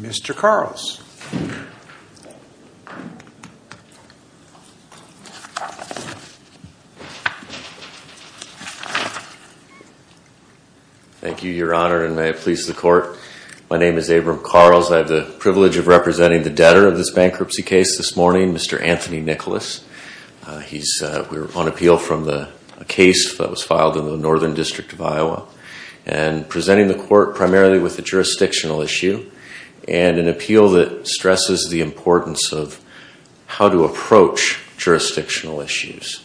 Mr. Thank you, Your Honor, and may it please the court. My name is Abram Carls. I have the privilege of representing the debtor of this bankruptcy case this morning, Mr. Anthony Nicholas. He's on appeal from a case that was filed in the Northern District of Iowa and presenting the court primarily with a jurisdictional issue and an appeal that stresses the importance of how to approach jurisdictional issues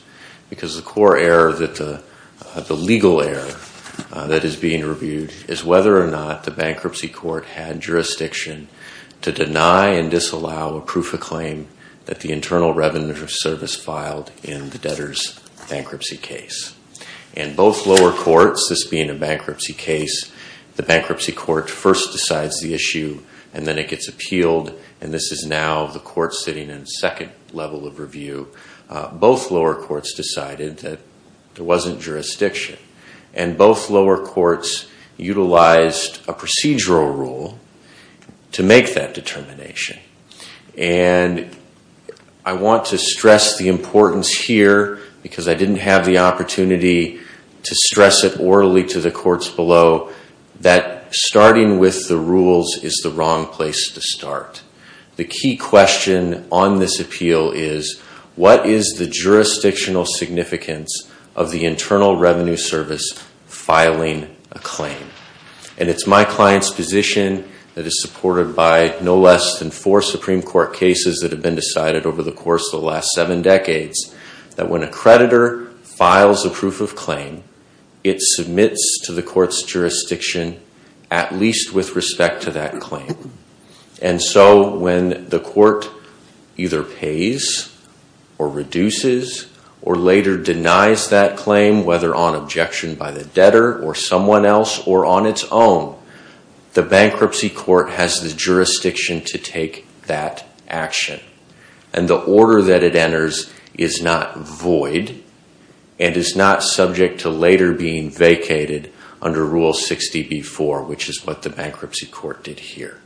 because the core error, the legal error that is being reviewed is whether or not the bankruptcy court had jurisdiction to deny and disallow a proof of claim that the internal revenue of service filed in the debtor's bankruptcy case. In both lower courts, this being a bankruptcy case, the bankruptcy court first decides the court sitting in second level of review. Both lower courts decided that there wasn't jurisdiction and both lower courts utilized a procedural rule to make that determination. I want to stress the importance here because I didn't have the opportunity to stress it orally to the courts below that starting with the rules is the wrong place to start. The key question on this appeal is what is the jurisdictional significance of the internal revenue service filing a claim? And it's my client's position that is supported by no less than four Supreme Court cases that have been decided over the course of the last seven decades that when a creditor files a proof of claim, it submits to the court's jurisdiction at least with respect to that claim. And so when the court either pays or reduces or later denies that claim, whether on objection by the debtor or someone else or on its own, the bankruptcy court has the jurisdiction to take that action. And the order that it enters is not void and is not subject to later being vacated under Rule 60B4, which is what the bankruptcy court did here.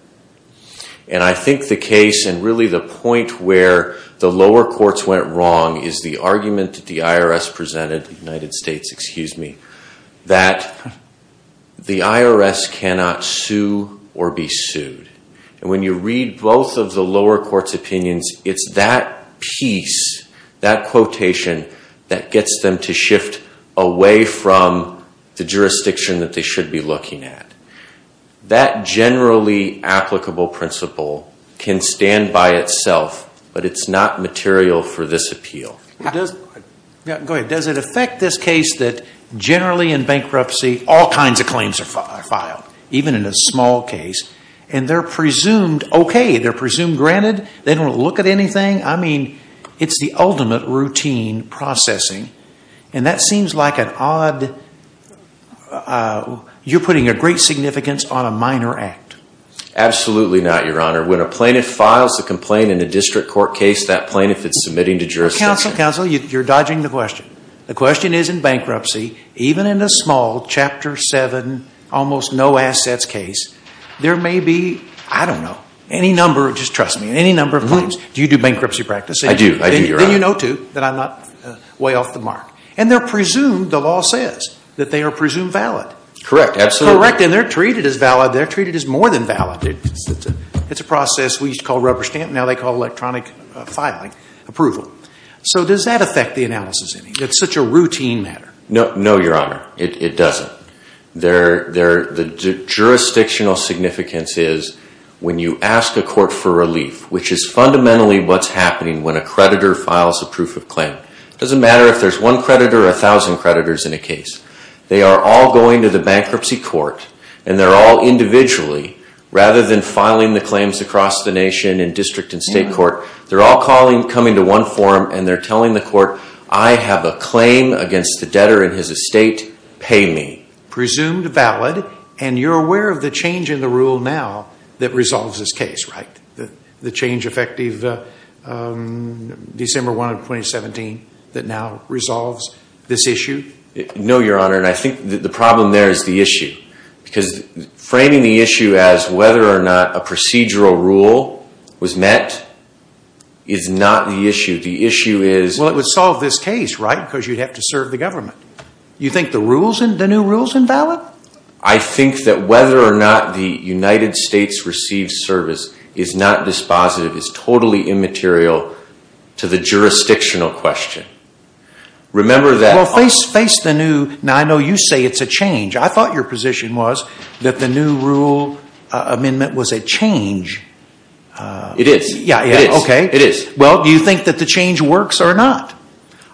And I think the case and really the point where the lower courts went wrong is the argument that the IRS presented, the United States, excuse me, that the IRS cannot sue or be sued. And when you read both of the lower courts' opinions, it's that piece, that quotation that gets them to shift away from the jurisdiction that they should be looking at. That generally applicable principle can stand by itself, but it's not material for this appeal. Go ahead. Does it affect this case that generally in bankruptcy, all kinds of claims are filed, even in a small case, and they're presumed okay? They're presumed granted? They don't look at anything? I mean, it's the ultimate routine processing. And that seems like an odd, you're putting a great significance on a minor act. Absolutely not, Your Honor. When a plaintiff files a complaint in a district court case, that plaintiff is submitting to jurisdiction. Counsel, counsel, you're dodging the question. The question is in bankruptcy, even in a small Chapter 7, almost no assets case, there may be, I don't know, any number, just trust me, any number of claims. Do you do bankruptcy practice? I do. I do, Your Honor. Then you know to, that I'm not way off the mark. And they're presumed, the law says, that they are presumed valid. Correct. Absolutely. Correct. And they're treated as valid. They're treated as more than valid. It's a process we used to call rubber stamping. Now they call electronic filing approval. So does that affect the analysis? It's such a routine matter. No, Your Honor, it doesn't. The jurisdictional significance is when you ask a court for relief, which is fundamentally what's happening when a creditor files a proof of claim. It doesn't matter if there's one creditor or a thousand creditors in a case. They are all going to the bankruptcy court and they're all individually, rather than filing the claims across the nation in district and state court, they're all coming to one forum and they're telling the court, I have a claim against the debtor in his estate. Pay me. Presumed valid, and you're aware of the change in the rule now that resolves this case, right? The change effective December 1 of 2017 that now resolves this issue? No, Your Honor, and I think the problem there is the issue. Because framing the issue as whether or not a procedural rule was met is not the issue. The issue is... Well, it would solve this case, right, because you'd have to serve the government. You think the new rule's invalid? I think that whether or not the United States receives service is not dispositive, is totally immaterial to the jurisdictional question. Remember that... Well, face the new... Now, I know you say it's a change. I thought your position was that the new rule amendment was a change. It is. It is. Well, do you think that the change works or not?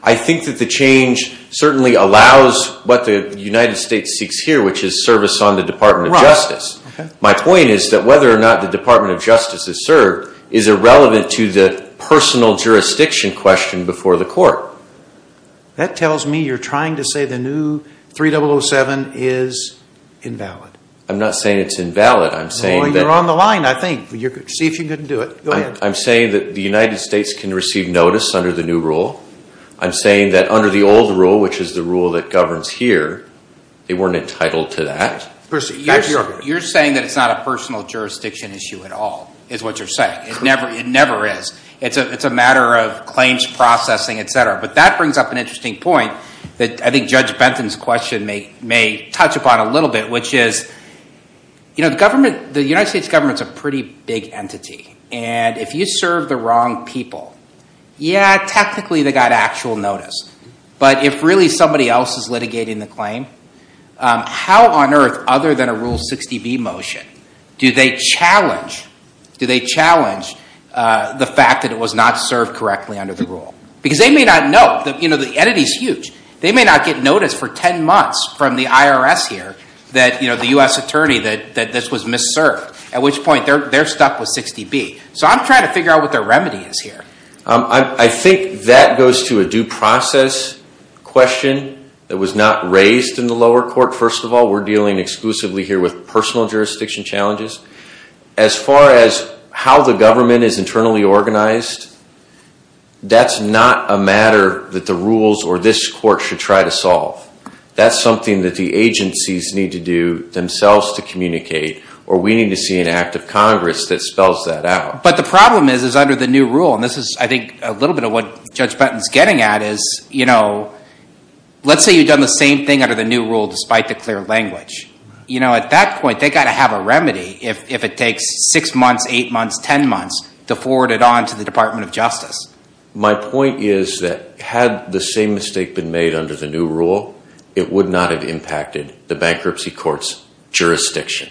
I think that the change certainly allows what the United States seeks here, which is service on the Department of Justice. My point is that whether or not the Department of Justice is served is irrelevant to the personal jurisdiction question before the court. That tells me you're trying to say the new 3007 is invalid. I'm not saying it's invalid. I'm saying that... Well, you're on the line, I think. See if you can do it. Go ahead. I'm saying that the United States can receive notice under the new rule. I'm saying that under the old rule, which is the rule that governs here, they weren't entitled to that. You're saying that it's not a personal jurisdiction issue at all, is what you're saying. It never is. It's a matter of claims processing, et cetera. But that brings up an interesting point that I think Judge Benton's question may touch upon a little bit, which is the United States government's a pretty big entity. If you serve the wrong people, yeah, technically they got actual notice. But if really somebody else is litigating the claim, how on earth, other than a Rule 60B motion, do they challenge the fact that it was not served correctly under the rule? Because they may not know. The entity's huge. They may not get notice for 10 months from the IRS here that the U.S. attorney that this was misserved, at which point they're stuck with 60B. So I'm trying to figure out what their remedy is here. I think that goes to a due process question that was not raised in the lower court, first of all. We're dealing exclusively here with personal jurisdiction challenges. As far as how the government is internally organized, that's not a matter that the rules or this court should try to solve. That's something that the agencies need to do themselves to communicate, or we need to see an act of Congress that spells that out. But the problem is, is under the new rule, and this is, I think, a little bit of what Judge Benton's getting at, is, you know, let's say you've done the same thing under the new rule despite the clear language. You know, at that point, they got to have a remedy if it takes six months, eight months, 10 months to forward it on to the Department of Justice. My point is that had the same mistake been made under the new rule, it would not have impacted the bankruptcy court's jurisdiction,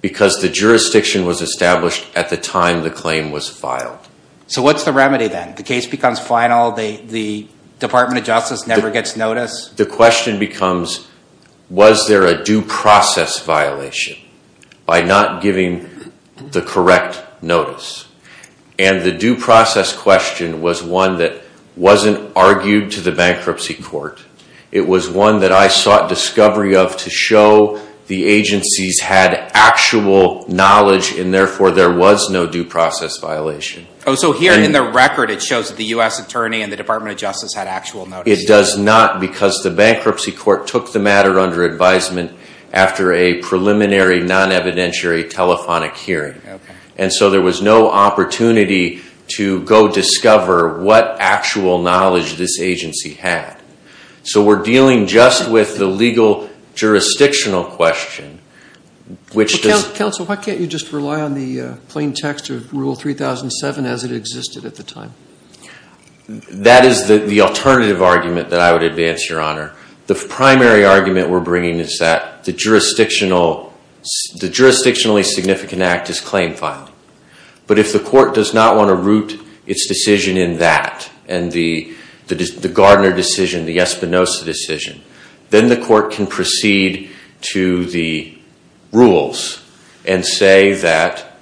because the jurisdiction was established at the time the claim was filed. So what's the remedy then? The case becomes final, the Department of Justice never gets notice? The question becomes, was there a due process violation by not giving the correct notice? And the due process question was one that wasn't argued to the bankruptcy court. It was one that I sought discovery of to show the agencies had actual knowledge, and therefore, there was no due process violation. Oh, so here in the record, it shows that the U.S. Attorney and the Department of Justice had actual notice. It does not, because the bankruptcy court took the matter under advisement after a preliminary non-evidentiary telephonic hearing. And so there was no opportunity to go discover what actual knowledge this agency had. So we're dealing just with the legal jurisdictional question, which does... Counsel, why can't you just rely on the plain text of Rule 3007 as it existed at the time? That is the alternative argument that I would advance, Your Honor. The primary argument we're bringing is that the jurisdictionally significant act is claim filing. But if the court does not want to root its decision in that, and the Gardner decision, the Espinosa decision, then the court can proceed to the rules and say that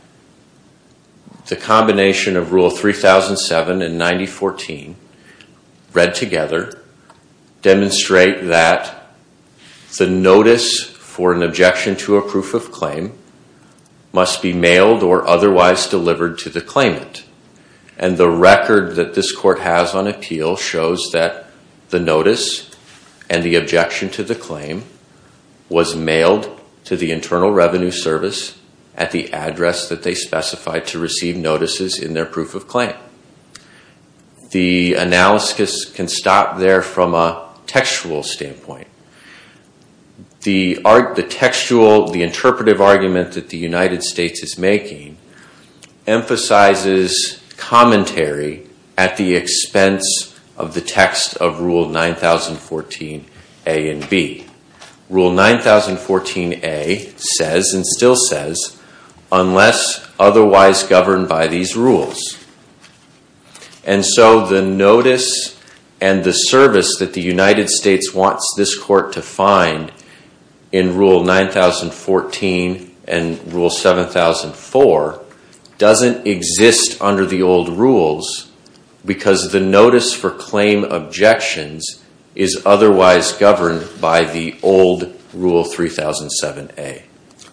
the combination of Rule 3007 and 9014 read together demonstrate that the notice for an objection to a proof of claim must be mailed or otherwise delivered to the claimant. And the record that this court has on appeal shows that the notice and the objection to the claim was mailed to the Internal Revenue Service at the address that they specified to receive notices in their proof of claim. The analysis can stop there from a textual standpoint. The textual, the interpretive argument that the United States is making emphasizes commentary at the expense of the text of Rule 9014 A and B. Rule 9014 A says and still says, unless otherwise governed by these rules. And so the notice and the service that the United States wants this court to find in Rule 9014 and Rule 7004 doesn't exist under the old rules because the notice for claim objections is otherwise governed by the old Rule 3007 A.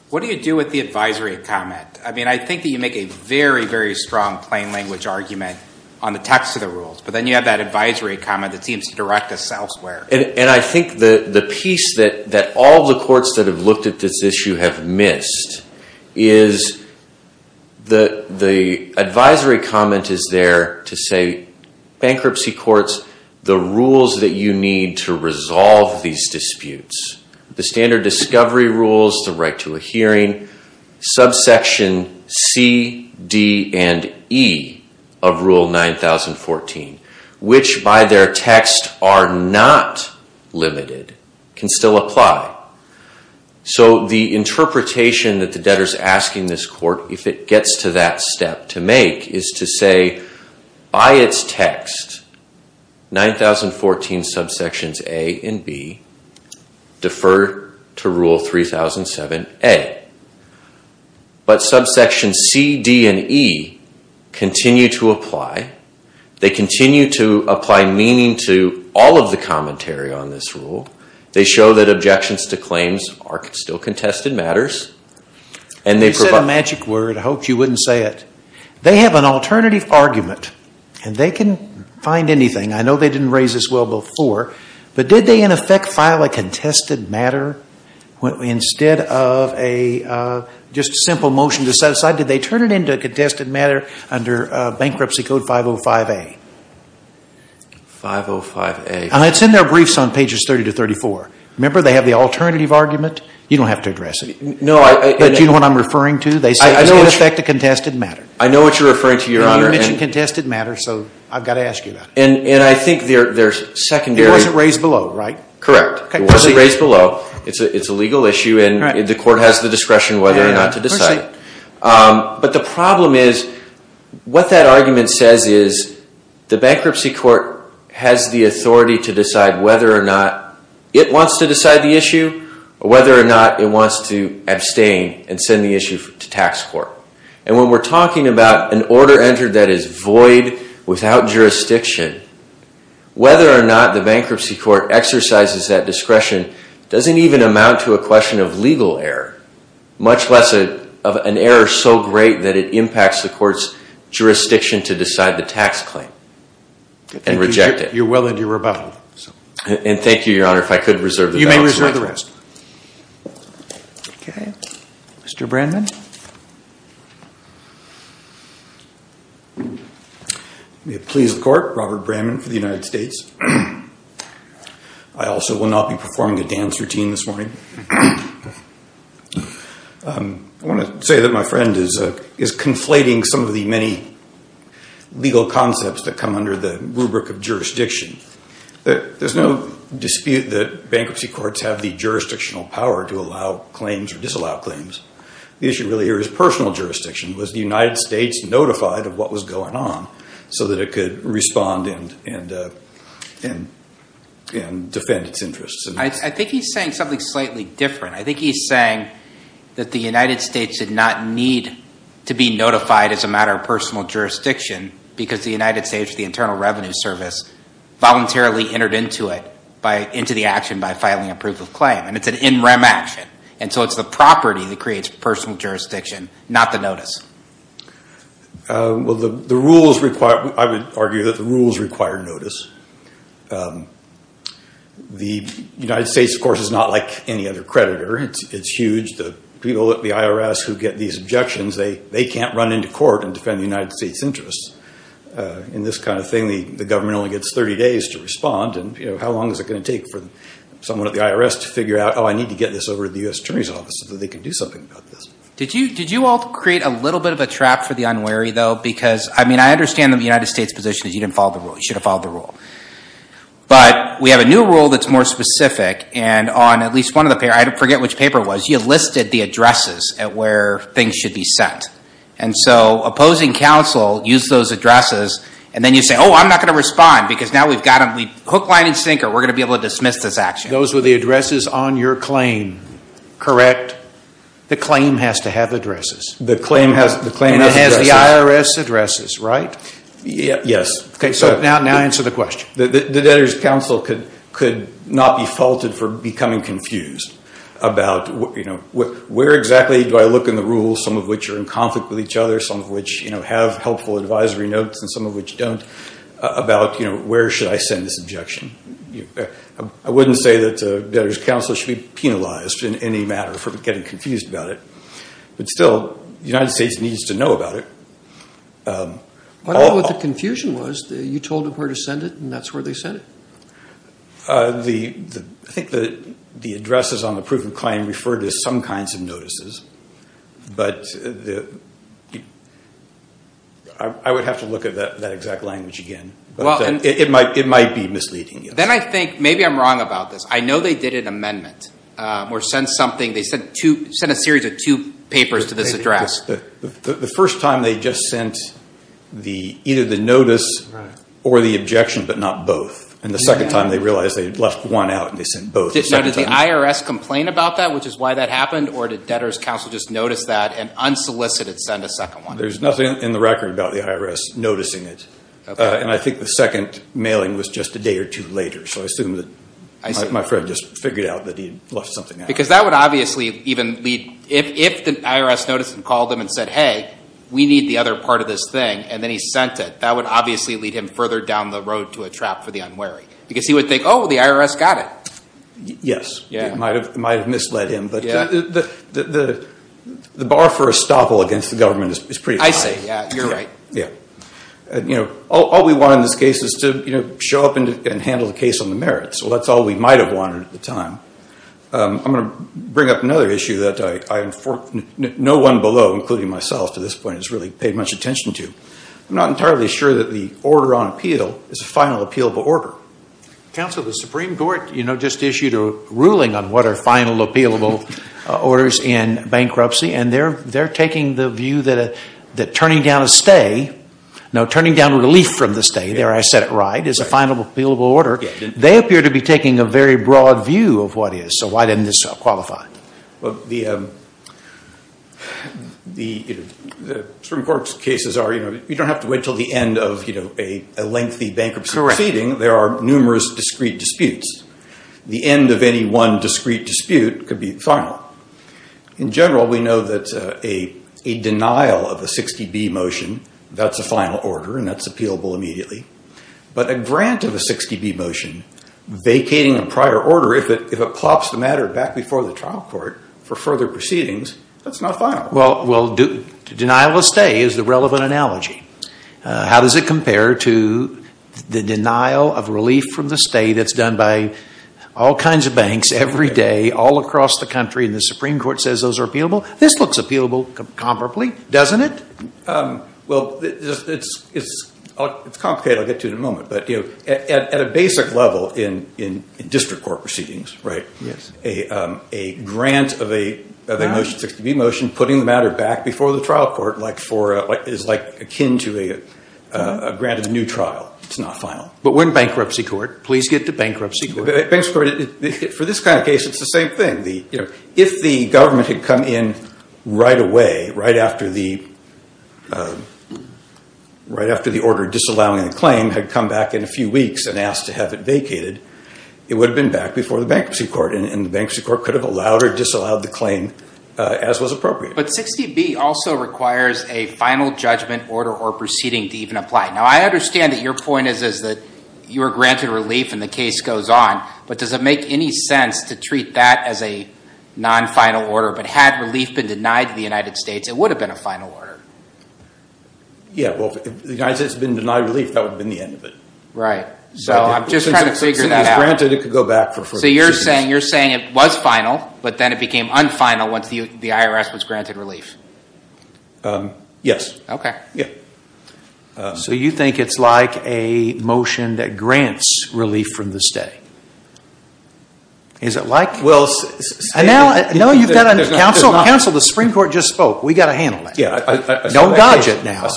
What do you do with the advisory comment? I mean, I think that you make a very, very strong plain language argument on the text of the rules, but then you have that advisory comment that seems to direct us elsewhere. And I think the piece that all of the courts that have looked at this issue have missed is the advisory comment is there to say bankruptcy courts do not have the authority to make a decision on the rules that you need to resolve these disputes. The standard discovery rules, the right to a hearing, subsection C, D, and E of Rule 9014, which by their text are not limited, can still apply. So the interpretation that the debtor is asking this court, if it gets to that step, to make is to say, by its text, 9014 subsections A and B defer to Rule 3007 A. But subsections C, D, and E continue to apply. They continue to apply meaning to all of the commentary on this rule. They show that objections to claims are still contested matters. You said a magic word. I hoped you wouldn't say it. They have an alternative argument, and they can find anything. I know they didn't raise this well before, but did they in effect file a contested matter? Instead of just a simple motion to set aside, did they turn it into a contested matter under Bankruptcy Code 505A? 505A. And it's in their briefs on pages 30 to 34. Remember, they have the alternative argument. You don't have to address it. But do you know what I'm referring to? They say it's in effect a contested matter. I know what you're referring to, Your Honor. You mentioned contested matters, so I've got to ask you that. And I think they're secondary. It wasn't raised below, right? Correct. It wasn't raised below. It's a legal issue, and the court has the discretion whether or not to decide it. But the problem is, what that argument says is, the bankruptcy court has the authority to decide whether or not it wants to decide the issue, or whether or not it wants to abstain and send the issue to tax court. And when we're talking about an order entered that is void, without jurisdiction, whether or not the bankruptcy court exercises that discretion doesn't even amount to a question of legal error, much less of an error so great that it impacts the court's jurisdiction to decide the tax claim and reject it. You're well into your rebuttal. And thank you, Your Honor, if I could reserve the balance of my time. Okay. Mr. Brannman? May it please the Court, Robert Brannman for the United States. I also will not be performing a dance routine this morning. I want to say that my friend is conflating some of the many legal concepts that come under the rubric of jurisdiction. There's no dispute that bankruptcy courts have the jurisdictional power to allow claims or disallow claims. The issue really here is personal jurisdiction. Was the United States notified of what was going on so that it could respond and defend its interests? I think he's saying something slightly different. I think he's saying that the United States did not need to be notified as a matter of personal jurisdiction because the United States, the Internal Revenue Service, voluntarily entered into it, into the action by filing a proof of claim. And it's an in rem action. And so it's the property that creates personal jurisdiction, not the notice. The rules require, I would argue that the rules require notice. The United States, of course, is not like any other creditor. It's huge. The people at the IRS who get these interests in this kind of thing, the government only gets 30 days to respond. And how long is it going to take for someone at the IRS to figure out, oh, I need to get this over to the U.S. Attorney's Office so that they can do something about this? Did you all create a little bit of a trap for the unwary, though? Because, I mean, I understand that the United States' position is you didn't follow the rule. You should have followed the rule. But we have a new rule that's more specific. And on at least one of the papers, I forget which paper it was, you listed the addresses at where things should be sent. And so opposing counsel used those addresses. And then you say, oh, I'm not going to respond because now we've got a hook, line, and sinker. We're going to be able to dismiss this action. Those were the addresses on your claim, correct? The claim has to have addresses. The claim has addresses. And it has the IRS addresses, right? Yes. Okay. So now answer the question. The debtors' counsel could not be faulted for becoming confused about, you know, where exactly do I look in the rules, some of which are in conflict with each other, some of which, you know, have helpful advisory notes, and some of which don't, about, you know, where should I send this objection? I wouldn't say that debtors' counsel should be penalized in any matter for getting confused about it. But still, the United States needs to know about it. I don't know what the confusion was. You told them where to send it, and that's where they sent it. I think the addresses on the proof of claim referred to some kinds of notices. But I would have to look at that exact language again. It might be misleading. Then I think maybe I'm wrong about this. I know they did an amendment or sent something. They sent a series of two papers to this address. The first time they just sent either the notice or the objection, but not both. And the second time, they realized they had left one out, and they sent both. Now, did the IRS complain about that, which is why that happened? Or did debtors' counsel just notice that and unsolicited send a second one? There's nothing in the record about the IRS noticing it. And I think the second mailing was just a day or two later. So I assume that my friend just figured out that he'd left something out. Because that would obviously even lead, if the IRS noticed and called him and said, hey, we need the other part of this thing, and then he sent it, that would obviously lead him further down the road to a trap for the unwary. Because he would think, oh, the IRS got it. Yes. It might have misled him. But the bar for a stopple against the government is pretty high. I see. Yeah, you're right. All we want in this case is to show up and handle the case on the merits. Well, that's all we might have wanted at the time. I'm going to bring up another issue that no one below, including myself, to this point has really paid much attention to. I'm not entirely sure that the order on appeal is a final appealable order. Counsel, the Supreme Court just issued a ruling on what are final appealable orders in bankruptcy. And they're taking the view that turning down a stay, no, turning down relief from the stay, there I said it right, is a final appealable order. They appear to be taking a very broad view of what is. So why didn't this qualify? Well, the Supreme Court's cases are, you don't have to wait until the end of a lengthy bankruptcy proceeding. There are numerous discrete disputes. The end of any one discrete dispute could be final. In general, we know that a denial of a 60B motion, that's a final order and that's appealable immediately. But a grant of a 60B motion vacating a prior order, if it plops the matter back before the trial court for further proceedings, that's not final. Well, denial of stay is the relevant analogy. How does it compare to the denial of relief from the stay that's done by all kinds of banks every day, all across the country, and the Supreme Court says those are appealable? This looks appealable comparably, doesn't it? Well, it's complicated. I'll get to it in a moment. But at a basic level in district court proceedings, a grant of a motion, 60B motion, putting the matter back before the trial court is akin to a grant of a new trial. It's not final. But we're in bankruptcy court. Please get to bankruptcy court. Bankruptcy court, for this kind of case, it's the same thing. If the government had come in right away, right after the order disallowing the claim, had come back in a few weeks and it would have been back before the bankruptcy court, and the bankruptcy court could have allowed or disallowed the claim as was appropriate. But 60B also requires a final judgment order or proceeding to even apply. Now, I understand that your point is that you are granted relief and the case goes on, but does it make any sense to treat that as a non-final order? But had relief been denied to the United States, it would have been a final order. Yeah, well, if the United States had been denied relief, that would have been the end of it. Right. So I'm just trying to figure that out. If it was granted, it could go back for a few weeks. So you're saying it was final, but then it became un-final once the IRS was granted relief? Yes. Okay. Yeah. So you think it's like a motion that grants relief from the state? Is it like... Well... No, you've got to... Counsel, the Supreme Court just spoke. We've got to handle that. Yeah, I saw that case. Don't dodge it now.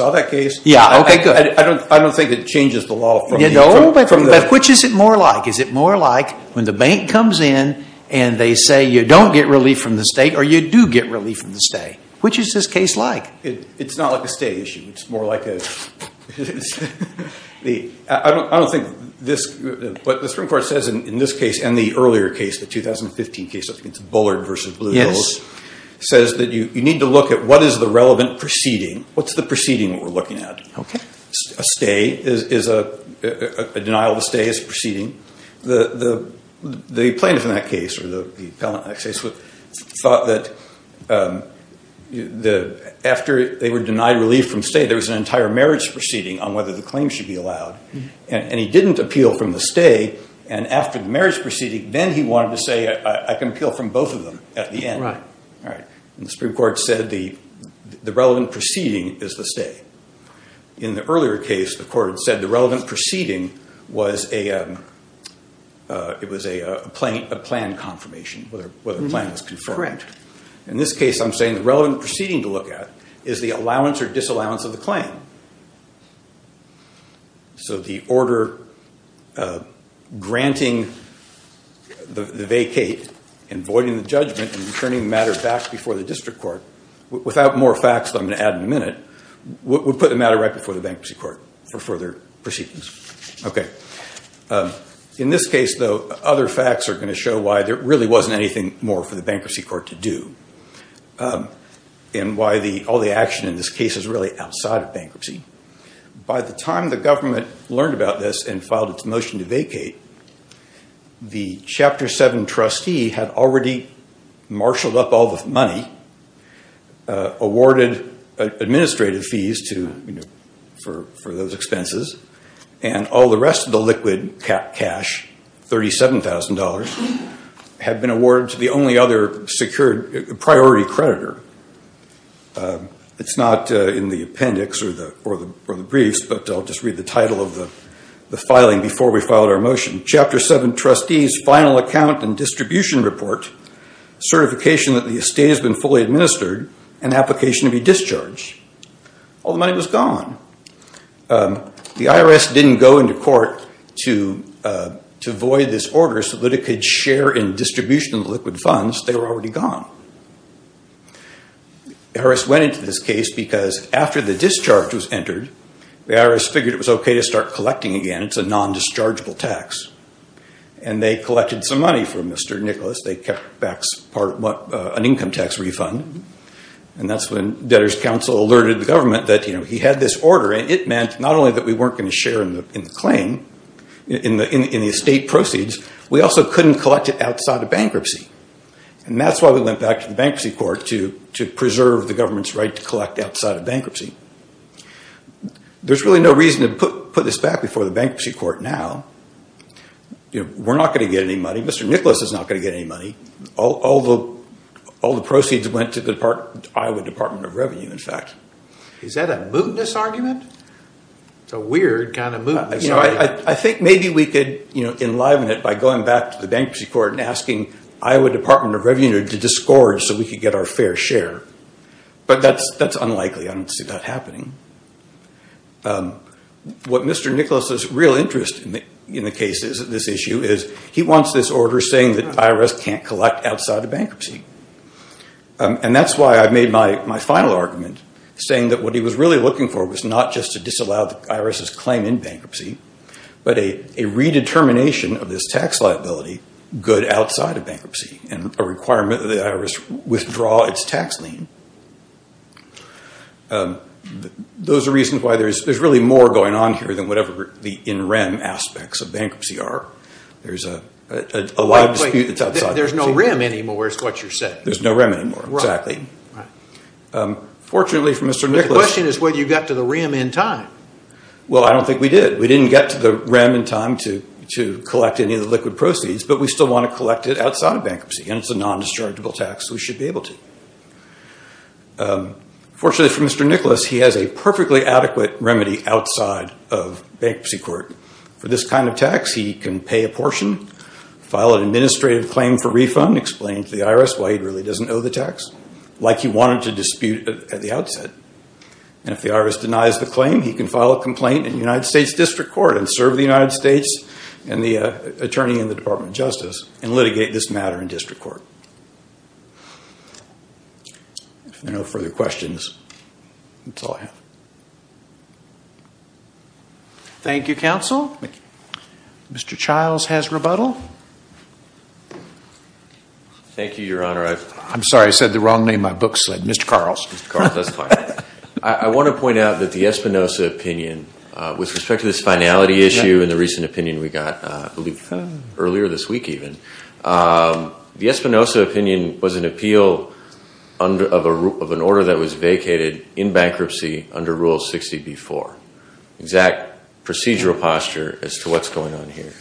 Yeah, okay, good. I don't think it changes the law from the... No, but which is it more like? Is it more like when the bank comes in and they say, you don't get relief from the state or you do get relief from the state? Which is this case like? It's not like a state issue. It's more like a... I don't think this... What the Supreme Court says in this case and the earlier case, the 2015 case, I think it's Bullard versus Blue Hills... Yes. ...says that you need to look at what is the relevant proceeding. What's the proceeding we're looking at? Okay. A stay is a denial of a stay is a proceeding. The plaintiff in that case or the appellant in that case thought that after they were denied relief from state, there was an entire marriage proceeding on whether the claim should be allowed. And he didn't appeal from the stay. And after the marriage proceeding, then he wanted to say, I can appeal from both of them at the end. Right. And the Supreme Court said the relevant proceeding is the stay. In the earlier case, the court said the relevant proceeding was a plan confirmation, whether the plan was confirmed. Correct. In this case, I'm saying the relevant proceeding to look at is the allowance or disallowance of the claim. So the order granting the vacate and voiding the judgment and returning the fact before the district court, without more facts that I'm going to add in a minute, would put the matter right before the bankruptcy court for further proceedings. Okay. In this case, though, other facts are going to show why there really wasn't anything more for the bankruptcy court to do and why all the action in this case is really outside of bankruptcy. By the time the government learned about this and filed its motion to vacate, the Chapter 7 trustee had already marshaled up all the money, awarded administrative fees for those expenses, and all the rest of the liquid cash, $37,000, had been awarded to the only other secured priority creditor. It's not in the appendix or the briefs, but I'll just read the title of the filing before we filed our motion. Chapter 7 trustee's final account and distribution report, certification that the estate has been fully administered, and application to be discharged. All the money was gone. The IRS didn't go into court to void this order so that it could share in distribution of the liquid funds. They were already gone. Harris went into this case because after the discharge was entered, the IRS figured it was okay to start collecting again. It's a non-dischargeable tax. They collected some money from Mr. Nicholas. They kept back an income tax refund. That's when debtors council alerted the government that he had this order. It meant not only that we weren't going to share in the claim, in the estate proceeds, we also couldn't collect it outside of bankruptcy. That's why we went back to the bankruptcy court to preserve the government's right to put this back before the bankruptcy court now. We're not going to get any money. Mr. Nicholas is not going to get any money. All the proceeds went to the Iowa Department of Revenue, in fact. Is that a mootness argument? It's a weird kind of mootness. I think maybe we could enliven it by going back to the bankruptcy court and asking Iowa Department of Revenue to discourage so we could get our fair share. That's unlikely. I don't see that happening. What Mr. Nicholas's real interest in the case is this issue is he wants this order saying that IRS can't collect outside of bankruptcy. That's why I made my final argument saying that what he was really looking for was not just to disallow the IRS's claim in bankruptcy, but a redetermination of this tax liability good outside of bankruptcy and a requirement that the IRS withdraw its tax lien. Those are reasons why there's really more going on here than whatever the in-rem aspects of bankruptcy are. There's a lot of dispute that's outside bankruptcy. There's no rem anymore is what you're saying. There's no rem anymore, exactly. Fortunately for Mr. Nicholas... The question is whether you got to the rem in time. Well, I don't think we did. We didn't get to the rem in time to collect any of the liquid proceeds, but we still want to collect it outside of bankruptcy. It's a non-dischargeable tax. We should be able to. Fortunately for Mr. Nicholas, he has a perfectly adequate remedy outside of bankruptcy court. For this kind of tax, he can pay a portion, file an administrative claim for refund, explain to the IRS why he really doesn't owe the tax like he wanted to dispute at the outset. If the IRS denies the claim, he can file a complaint in the United States and the attorney in the Department of Justice and litigate this matter in district court. If there are no further questions, that's all I have. Thank you, counsel. Mr. Childs has rebuttal. Thank you, Your Honor. I'm sorry, I said the wrong name. My book slid. Mr. Carl. I want to point out that the Espinosa opinion, with respect to this finality issue and the recent opinion we got earlier this week even, the Espinosa opinion was an appeal of an order that was vacated in bankruptcy under Rule 60B4. Exact procedural posture as to what's going on here.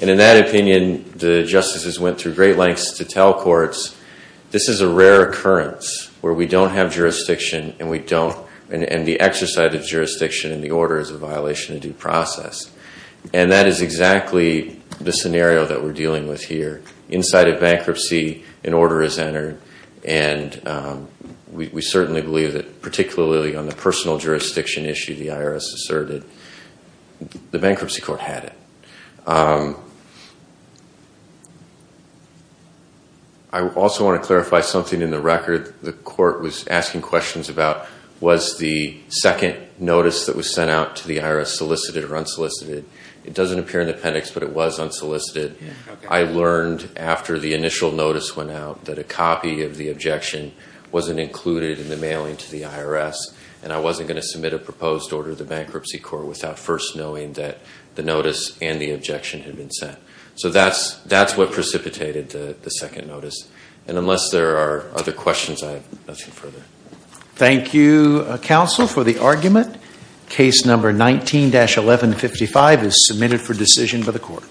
And in that opinion, the justices went through great lengths to tell courts, this is a rare occurrence where we don't have jurisdiction and we don't, and the exercise of jurisdiction in the order is a violation of due process. And that is exactly the scenario that we're dealing with here. Inside of bankruptcy, an order is entered and we certainly believe that, particularly on the personal jurisdiction issue the IRS asserted, the bankruptcy court had it. I also want to clarify something in the record. The court was asking questions about, was the second notice that was sent out to the IRS solicited or unsolicited? It doesn't appear in the appendix, but it was unsolicited. I learned after the initial notice went out that a copy of the objection wasn't included in the mailing to the IRS, and I wasn't going to submit a proposed order to the bankruptcy court without first knowing that the notice and the objection had been sent. So that's what precipitated the second notice. And unless there are other questions, I have nothing further. Thank you, counsel, for the argument. Case number 19-1155 is submitted for decision by the court.